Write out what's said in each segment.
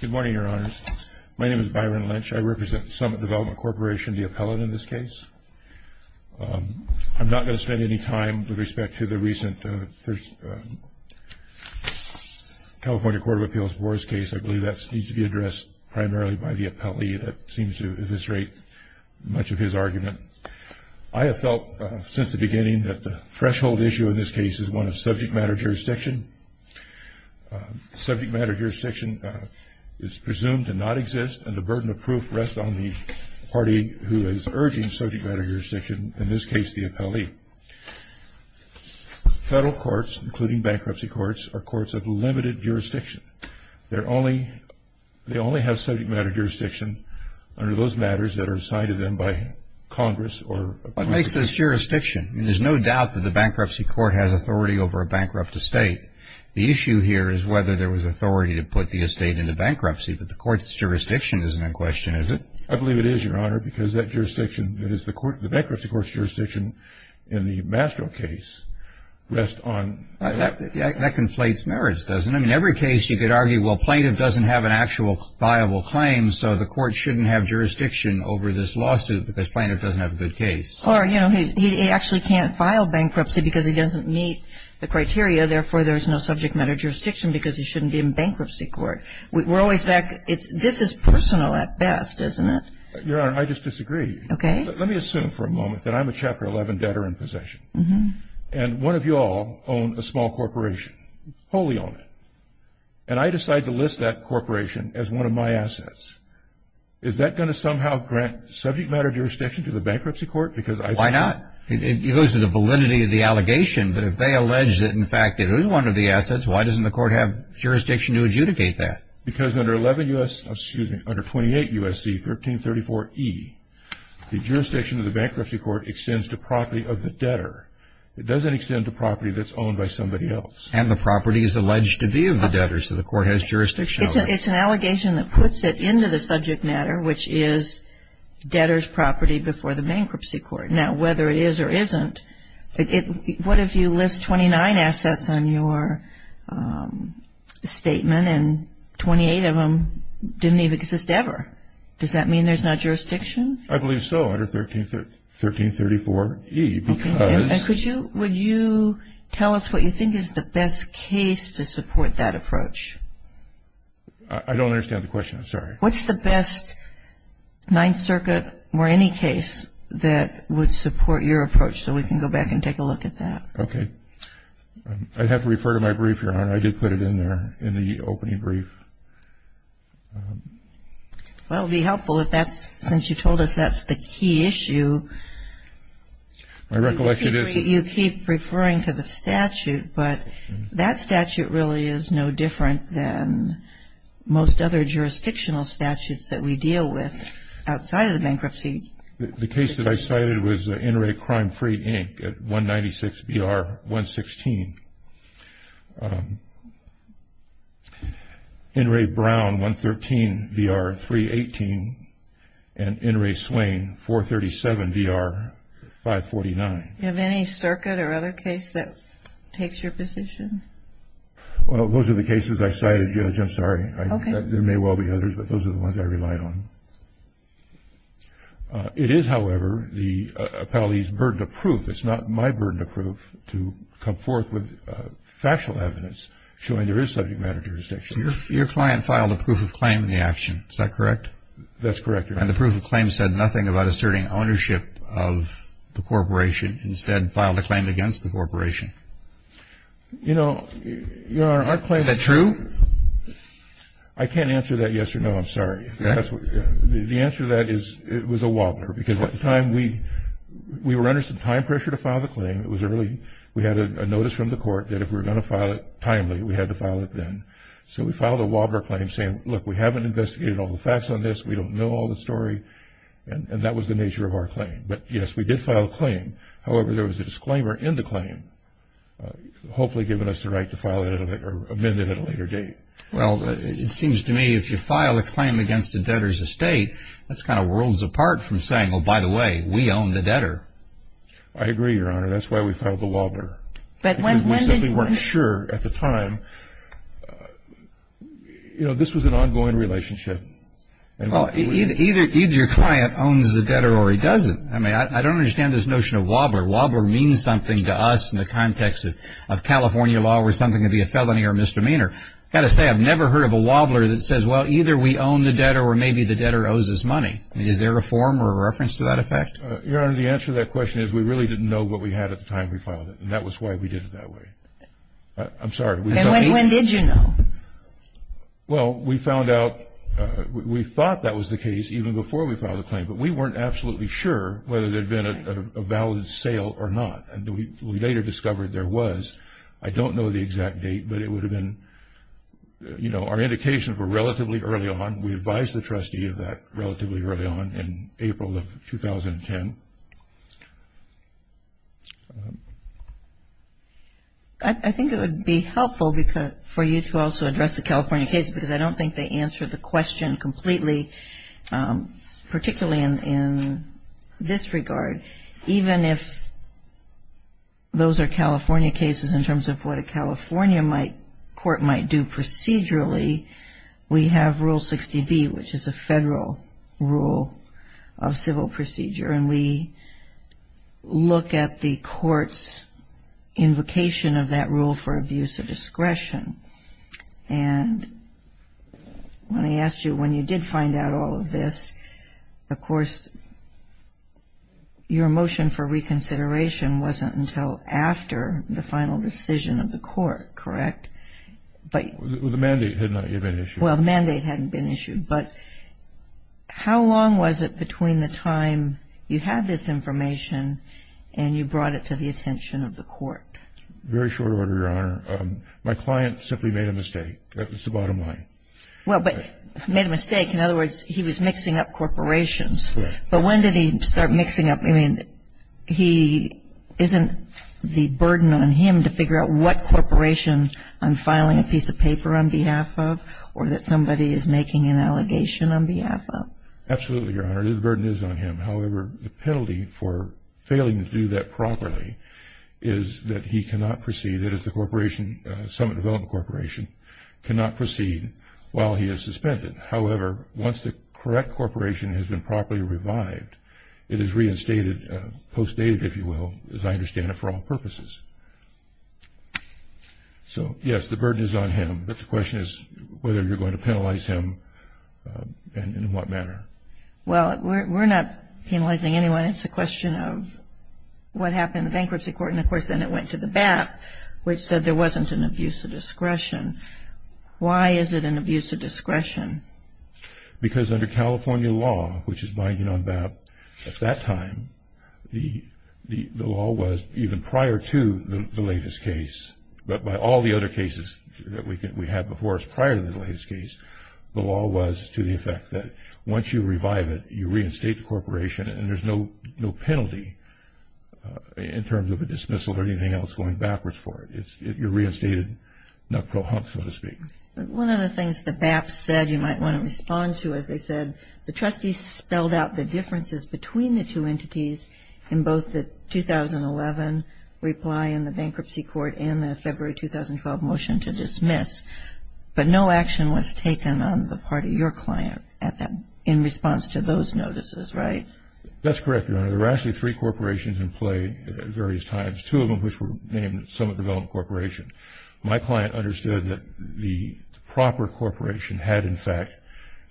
Good morning, Your Honors. My name is Byron Lynch. I represent Summit Development Corporation, the appellate in this case. I'm not going to spend any time with respect to the recent California Court of Appeals Boar's case. I believe that needs to be addressed primarily by the appellee that seems to illustrate much of his argument. I have felt since the beginning that the threshold issue in this case is one of subject matter jurisdiction. Subject matter jurisdiction is presumed to not exist, and the burden of proof rests on the party who is urging subject matter jurisdiction, in this case the appellee. Federal courts, including bankruptcy courts, are courts of limited jurisdiction. They only have subject matter jurisdiction under those matters that are assigned to them by Congress or appellees. What makes this jurisdiction? There's no doubt that the bankruptcy court has authority over a bankrupt estate. The issue here is whether there was authority to put the estate into bankruptcy, but the court's jurisdiction isn't in question, is it? I believe it is, Your Honor, because that jurisdiction, that is the bankruptcy court's jurisdiction in the Mastro case, rests on... That conflates merits, doesn't it? I mean, every case you could argue, well, plaintiff doesn't have an actual viable claim, so the court shouldn't have jurisdiction over this lawsuit because plaintiff doesn't have a good case. Or, you know, he actually can't file bankruptcy because he doesn't meet the criteria, therefore there's no subject matter jurisdiction because he shouldn't be in bankruptcy court. We're always back, this is personal at best, isn't it? Your Honor, I just disagree. Okay. Let me assume for a moment that I'm a Chapter 11 debtor in possession, and one of you all own a small corporation, wholly own it, and I decide to list that corporation as one of my assets. Is that going to somehow grant subject matter jurisdiction to the bankruptcy court? Why not? It goes to the validity of the allegation, but if they allege that, in fact, it is one of the assets, why doesn't the court have jurisdiction to adjudicate that? Because under 11 U.S., excuse me, under 28 U.S.C. 1334E, the jurisdiction of the bankruptcy court extends to property of the debtor. It doesn't extend to property that's owned by somebody else. And the property is alleged to be of the debtor, so the court has jurisdiction over it. It's an allegation that puts it into the subject matter, which is debtor's property before the bankruptcy court. Now, whether it is or isn't, what if you list 29 assets on your statement and 28 of them didn't even exist ever? Does that mean there's not jurisdiction? I believe so, under 1334E, because... And could you, would you tell us what you think is the best case to support that approach? I don't understand the question. I'm sorry. What's the best Ninth Circuit or any case that would support your approach, so we can go back and take a look at that? I'd have to refer to my brief, Your Honor. I did put it in there, in the opening brief. Well, it would be helpful if that's, since you told us that's the key issue... My recollection is... You keep referring to the statute, but that statute really is no different than most other jurisdictional statutes that we deal with outside of the bankruptcy. The case that I cited was the Inouye Crime-Free Inc. at 196BR-116. Inouye Brown, 113BR-318. And Inouye Swain, 437BR-549. Do you have any circuit or other case that takes your position? Well, those are the cases I cited, Judge. I'm sorry. Okay. There may well be others, but those are the ones I relied on. It is, however, the appellee's burden of proof. It's not my burden of proof to come forth with factual evidence showing there is subject matter jurisdiction. Your client filed a proof of claim in the action. Is that correct? That's correct, Your Honor. And the proof of claim said nothing about asserting ownership of the corporation, instead filed a claim against the corporation. You know, Your Honor, our claim... Is that true? I can't answer that yes or no. I'm sorry. The answer to that is it was a wobbler, because at the time we were under some time pressure to file the claim. It was early. We had a notice from the court that if we were going to file it timely, we had to file it then. So we filed a wobbler claim saying, look, we haven't investigated all the facts on this. We don't know all the story. And that was the nature of our claim. But, yes, we did file a claim. However, there was a disclaimer in the claim, hopefully giving us the right to file it or amend it at a later date. Well, it seems to me if you file a claim against a debtor's estate, that's kind of worlds apart from saying, well, by the way, we own the debtor. I agree, Your Honor. That's why we filed the wobbler. Because we simply weren't sure at the time. You know, this was an ongoing relationship. Either your client owns the debtor or he doesn't. I mean, I don't understand this notion of wobbler. Wobbler means something to us in the context of California law where something can be a felony or a misdemeanor. I've got to say I've never heard of a wobbler that says, well, either we own the debtor or maybe the debtor owes us money. I mean, is there a form or a reference to that effect? Your Honor, the answer to that question is we really didn't know what we had at the time we filed it. And that was why we did it that way. I'm sorry. When did you know? Well, we found out we thought that was the case even before we filed the claim. But we weren't absolutely sure whether there had been a valid sale or not. And we later discovered there was. I don't know the exact date, but it would have been, you know, our indications were relatively early on. We advised the trustee of that relatively early on in April of 2010. I think it would be helpful for you to also address the California case because I don't think they answered the question completely, particularly in this regard. Even if those are California cases in terms of what a California court might do procedurally, we have Rule 60B, which is a federal rule of civil procedure. And we look at the court's invocation of that rule for abuse of discretion. And when I asked you when you did find out all of this, of course, your motion for reconsideration wasn't until after the final decision of the court, correct? The mandate had not yet been issued. Well, the mandate hadn't been issued. But how long was it between the time you had this information and you brought it to the attention of the court? Very short order, Your Honor. My client simply made a mistake. That was the bottom line. Well, but made a mistake. In other words, he was mixing up corporations. Correct. But when did he start mixing up? I mean, isn't the burden on him to figure out what corporation I'm filing a piece of paper on behalf of or that somebody is making an allegation on behalf of? Absolutely, Your Honor. The burden is on him. However, the penalty for failing to do that properly is that he cannot proceed, that is the corporation, Summit Development Corporation, cannot proceed while he is suspended. However, once the correct corporation has been properly revived, it is reinstated, postdated, if you will, as I understand it, for all purposes. So, yes, the burden is on him. But the question is whether you're going to penalize him and in what manner. Well, we're not penalizing anyone. It's a question of what happened in the bankruptcy court. And, of course, then it went to the BAP, which said there wasn't an abuse of discretion. Why is it an abuse of discretion? Because under California law, which is binding on BAP at that time, the law was even prior to the latest case, but by all the other cases that we had before us prior to the latest case, the law was to the effect that once you revive it, you reinstate the corporation and there's no penalty in terms of a dismissal or anything else going backwards for it. You're reinstated, knuckle-hump, so to speak. One of the things the BAP said you might want to respond to, as they said, the trustees spelled out the differences between the two entities in both the 2011 reply and the bankruptcy court and the February 2012 motion to dismiss. But no action was taken on the part of your client in response to those notices, right? That's correct, Your Honor. There were actually three corporations in play at various times, two of them which were named Summit Development Corporation. My client understood that the proper corporation had, in fact,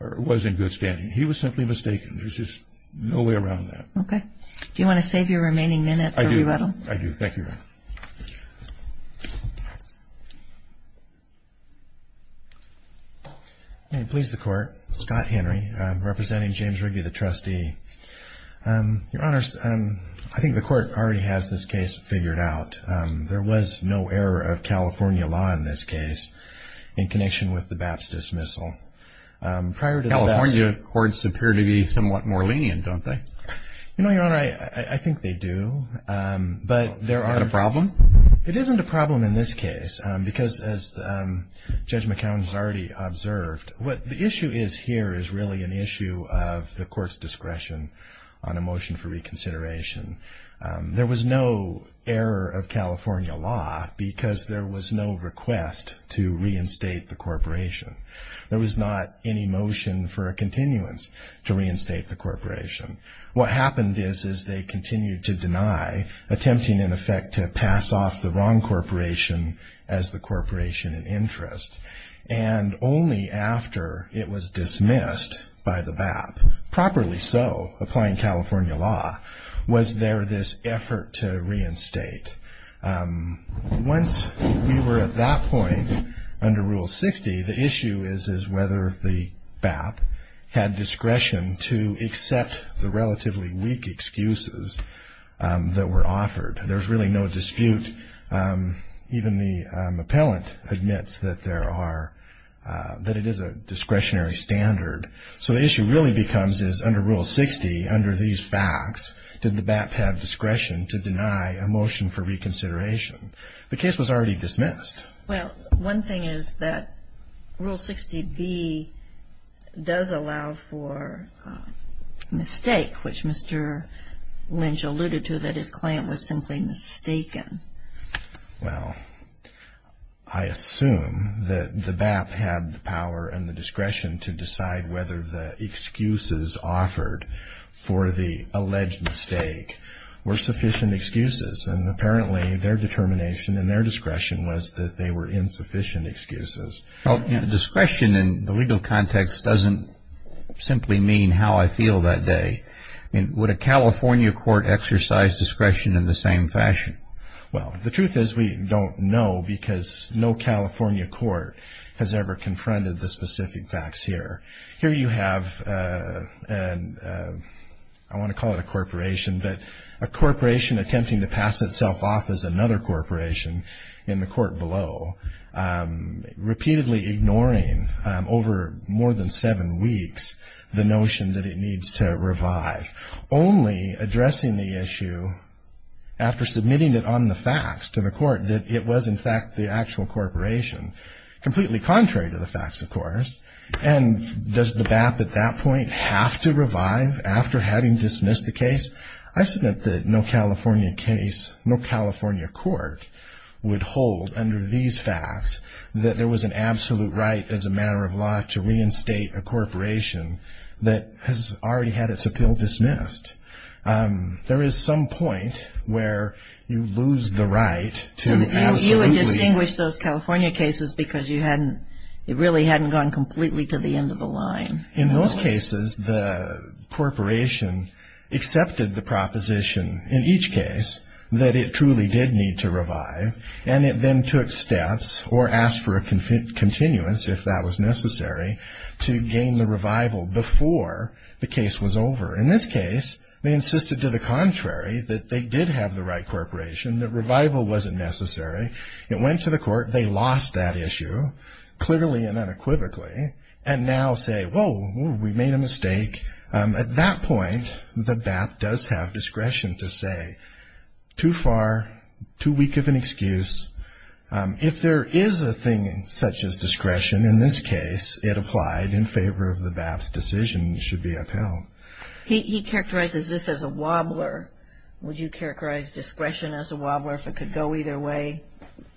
or was in good standing. He was simply mistaken. There's just no way around that. Okay. Do you want to save your remaining minute for rebuttal? I do. Thank you, Your Honor. May it please the Court. Scott Henry representing James Riggi, the trustee. Your Honors, I think the Court already has this case figured out. There was no error of California law in this case in connection with the BAP's dismissal. California courts appear to be somewhat more lenient, don't they? You know, Your Honor, I think they do. Is that a problem? It isn't a problem in this case because, as Judge McCown has already observed, what the issue is here is really an issue of the Court's discretion on a motion for reconsideration. There was no error of California law because there was no request to reinstate the corporation. There was not any motion for a continuance to reinstate the corporation. What happened is they continued to deny, attempting, in effect, to pass off the wrong corporation as the corporation in interest. And only after it was dismissed by the BAP, properly so, applying California law, was there this effort to reinstate. Once we were at that point under Rule 60, the issue is whether the BAP had discretion to accept the relatively weak excuses that were offered. There's really no dispute. Even the appellant admits that it is a discretionary standard. So the issue really becomes is, under Rule 60, under these facts, did the BAP have discretion to deny a motion for reconsideration? The case was already dismissed. Well, one thing is that Rule 60B does allow for a mistake, which Mr. Lynch alluded to, that his client was simply mistaken. Well, I assume that the BAP had the power and the discretion to decide whether the excuses offered for the alleged mistake were sufficient excuses. And apparently their determination and their discretion was that they were insufficient excuses. Discretion in the legal context doesn't simply mean how I feel that day. Would a California court exercise discretion in the same fashion? Well, the truth is we don't know, because no California court has ever confronted the specific facts here. Here you have, I want to call it a corporation, but a corporation attempting to pass itself off as another corporation in the court below, repeatedly ignoring over more than seven weeks the notion that it needs to revive. Only addressing the issue after submitting it on the facts to the court that it was, in fact, the actual corporation. Completely contrary to the facts, of course. And does the BAP at that point have to revive after having dismissed the case? I submit that no California case, no California court would hold under these facts that there was an absolute right as a matter of law to reinstate a corporation that has already had its appeal dismissed. There is some point where you lose the right to absolutely. So you would distinguish those California cases because you hadn't, it really hadn't gone completely to the end of the line. In those cases, the corporation accepted the proposition, in each case, that it truly did need to revive, and it then took steps or asked for a continuance if that was necessary to gain the revival before the case was over. In this case, they insisted to the contrary that they did have the right corporation, that revival wasn't necessary. It went to the court. They lost that issue, clearly and unequivocally, and now say, whoa, we made a mistake. At that point, the BAP does have discretion to say, too far, too weak of an excuse. If there is a thing such as discretion in this case, it applied in favor of the BAP's decision and should be upheld. He characterizes this as a wobbler. Would you characterize discretion as a wobbler if it could go either way,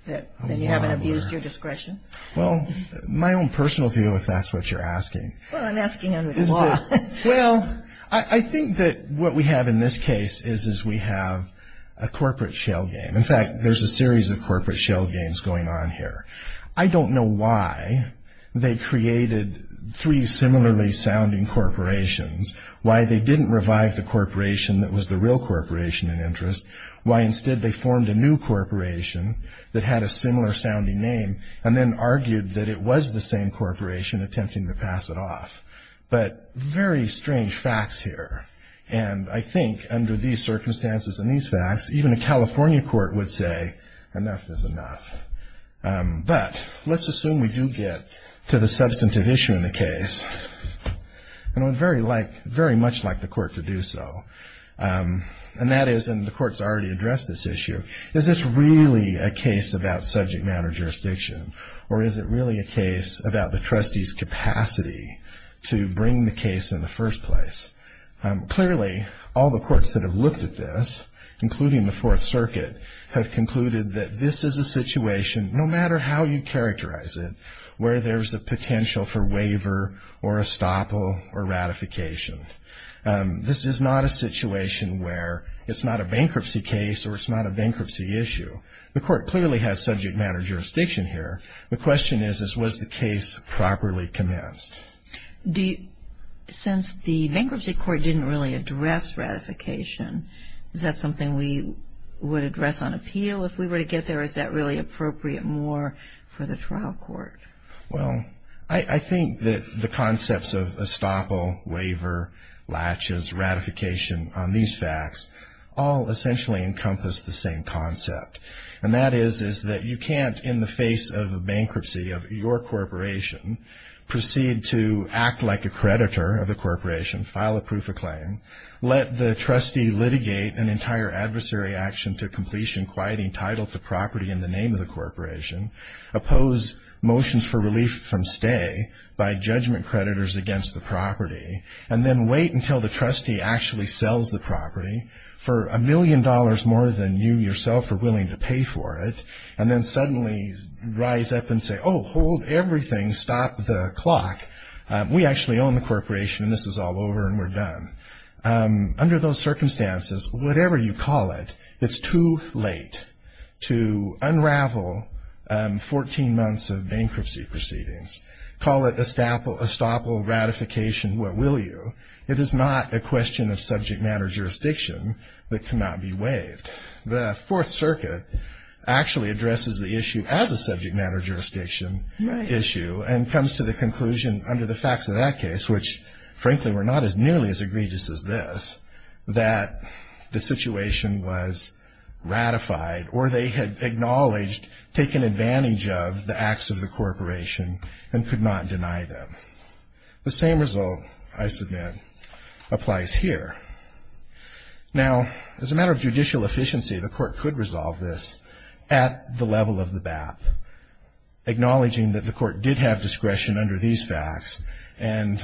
that you haven't abused your discretion? Well, my own personal view, if that's what you're asking. Well, I'm asking under the law. Well, I think that what we have in this case is we have a corporate shale game. In fact, there's a series of corporate shale games going on here. I don't know why they created three similarly sounding corporations, why they didn't revive the corporation that was the real corporation in interest, why instead they formed a new corporation that had a similar sounding name and then argued that it was the same corporation attempting to pass it off. But very strange facts here. And I think under these circumstances and these facts, even a California court would say enough is enough. But let's assume we do get to the substantive issue in the case. And I would very much like the court to do so. And that is, and the court's already addressed this issue, is this really a case about subject matter jurisdiction or is it really a case about the trustee's capacity to bring the case in the first place? Clearly, all the courts that have looked at this, including the Fourth Circuit, have concluded that this is a situation, no matter how you characterize it, where there's a potential for waiver or estoppel or ratification. This is not a situation where it's not a bankruptcy case or it's not a bankruptcy issue. The court clearly has subject matter jurisdiction here. The question is, was the case properly commenced? Since the bankruptcy court didn't really address ratification, is that something we would address on appeal? If we were to get there, is that really appropriate more for the trial court? Well, I think that the concepts of estoppel, waiver, latches, ratification on these facts, all essentially encompass the same concept. And that is that you can't, in the face of a bankruptcy of your corporation, proceed to act like a creditor of the corporation, file a proof of claim, let the trustee litigate an entire adversary action to completion, quieting title to property in the name of the corporation, oppose motions for relief from stay by judgment creditors against the property, and then wait until the trustee actually sells the property for a million dollars more than you yourself are willing to pay for it, and then suddenly rise up and say, oh, hold everything, stop the clock. We actually own the corporation and this is all over and we're done. Under those circumstances, whatever you call it, it's too late to unravel 14 months of bankruptcy proceedings. Call it estoppel, ratification, what will you? It is not a question of subject matter jurisdiction that cannot be waived. The Fourth Circuit actually addresses the issue as a subject matter jurisdiction issue and comes to the conclusion under the facts of that case, which frankly were not as nearly as egregious as this, that the situation was ratified or they had acknowledged taking advantage of the acts of the corporation and could not deny them. The same result, I submit, applies here. Now, as a matter of judicial efficiency, the court could resolve this at the level of the BAP, acknowledging that the court did have discretion under these facts and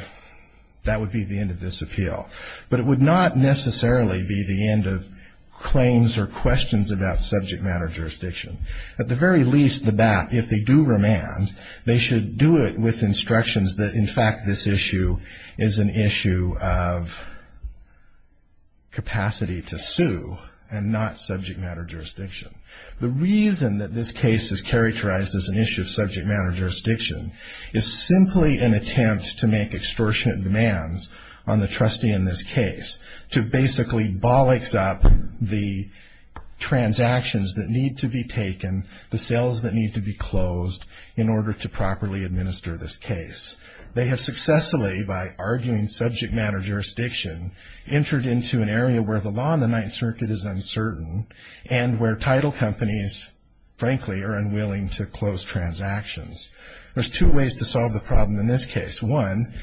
that would be the end of this appeal. But it would not necessarily be the end of claims or questions about subject matter jurisdiction. At the very least, the BAP, if they do remand, they should do it with instructions that in fact this issue is an issue of capacity to sue and not subject matter jurisdiction. The reason that this case is characterized as an issue of subject matter jurisdiction is simply an attempt to make extortionate demands on the trustee in this case to basically bollocks up the transactions that need to be taken, the sales that need to be closed in order to properly administer this case. They have successfully, by arguing subject matter jurisdiction, entered into an area where the law in the Ninth Circuit is uncertain and where title companies, frankly, are unwilling to close transactions. There's two ways to solve the problem in this case. One,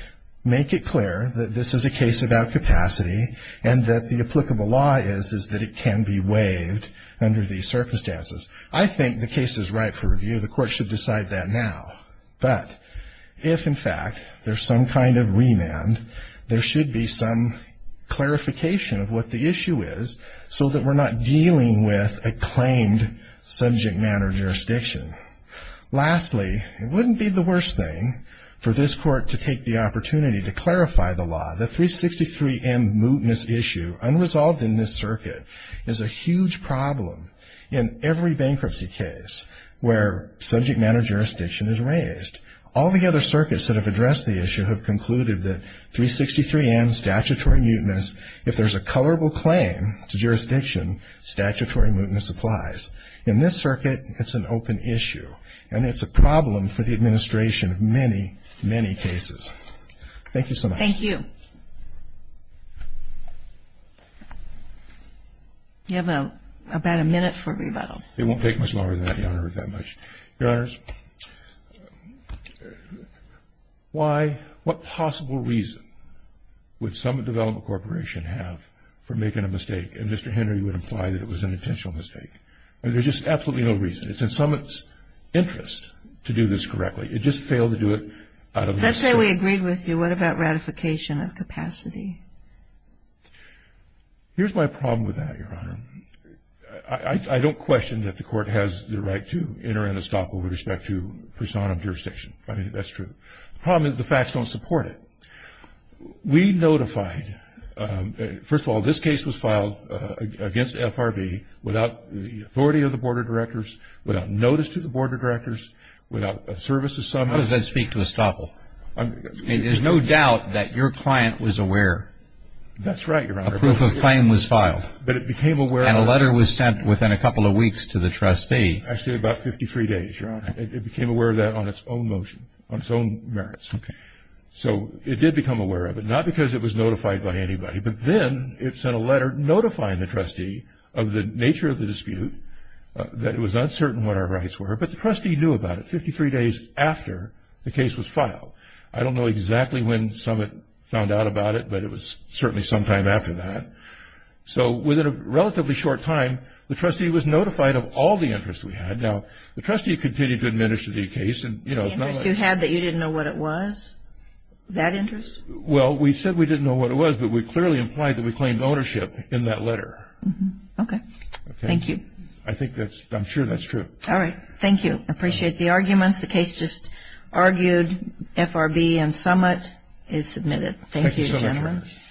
make it clear that this is a case about capacity and that the applicable law is that it can be waived under these circumstances. I think the case is right for review. The court should decide that now. But if, in fact, there's some kind of remand, there should be some clarification of what the issue is so that we're not dealing with a claimed subject matter jurisdiction. Lastly, it wouldn't be the worst thing for this court to take the opportunity to clarify the law. The 363M mutinous issue, unresolved in this circuit, is a huge problem in every bankruptcy case where subject matter jurisdiction is raised. All the other circuits that have addressed the issue have concluded that 363M statutory mutinous, if there's a colorable claim to jurisdiction, statutory mutinous applies. In this circuit, it's an open issue, and it's a problem for the administration of many, many cases. Thank you so much. Thank you. You have about a minute for rebuttal. It won't take much longer than that, Your Honor, if that much. Your Honors, why, what possible reason would Summit Development Corporation have for making a mistake, and Mr. Henry would imply that it was an intentional mistake? I mean, there's just absolutely no reason. It's in Summit's interest to do this correctly. It just failed to do it out of respect. Let's say we agreed with you. What about ratification of capacity? Here's my problem with that, Your Honor. I don't question that the Court has the right to enter into estoppel with respect to personam jurisdiction. I mean, that's true. The problem is the facts don't support it. We notified. First of all, this case was filed against FRB without the authority of the Board of Directors, without notice to the Board of Directors, without service to Summit. How does that speak to estoppel? I mean, there's no doubt that your client was aware. That's right, Your Honor. A proof of claim was filed. But it became aware of it. And a letter was sent within a couple of weeks to the trustee. Actually, about 53 days, Your Honor. It became aware of that on its own motion, on its own merits. Okay. So it did become aware of it, not because it was notified by anybody, but then it sent a letter notifying the trustee of the nature of the dispute, that it was uncertain what our rights were. But the trustee knew about it 53 days after the case was filed. I don't know exactly when Summit found out about it, but it was certainly sometime after that. So within a relatively short time, the trustee was notified of all the interest we had. Now, the trustee continued to administer the case. The interest you had that you didn't know what it was? That interest? Well, we said we didn't know what it was, but we clearly implied that we claimed ownership in that letter. Okay. Thank you. I'm sure that's true. All right. Thank you. I appreciate the arguments. The case just argued. FRB and Summit is submitted. Thank you, gentlemen. Thank you so much.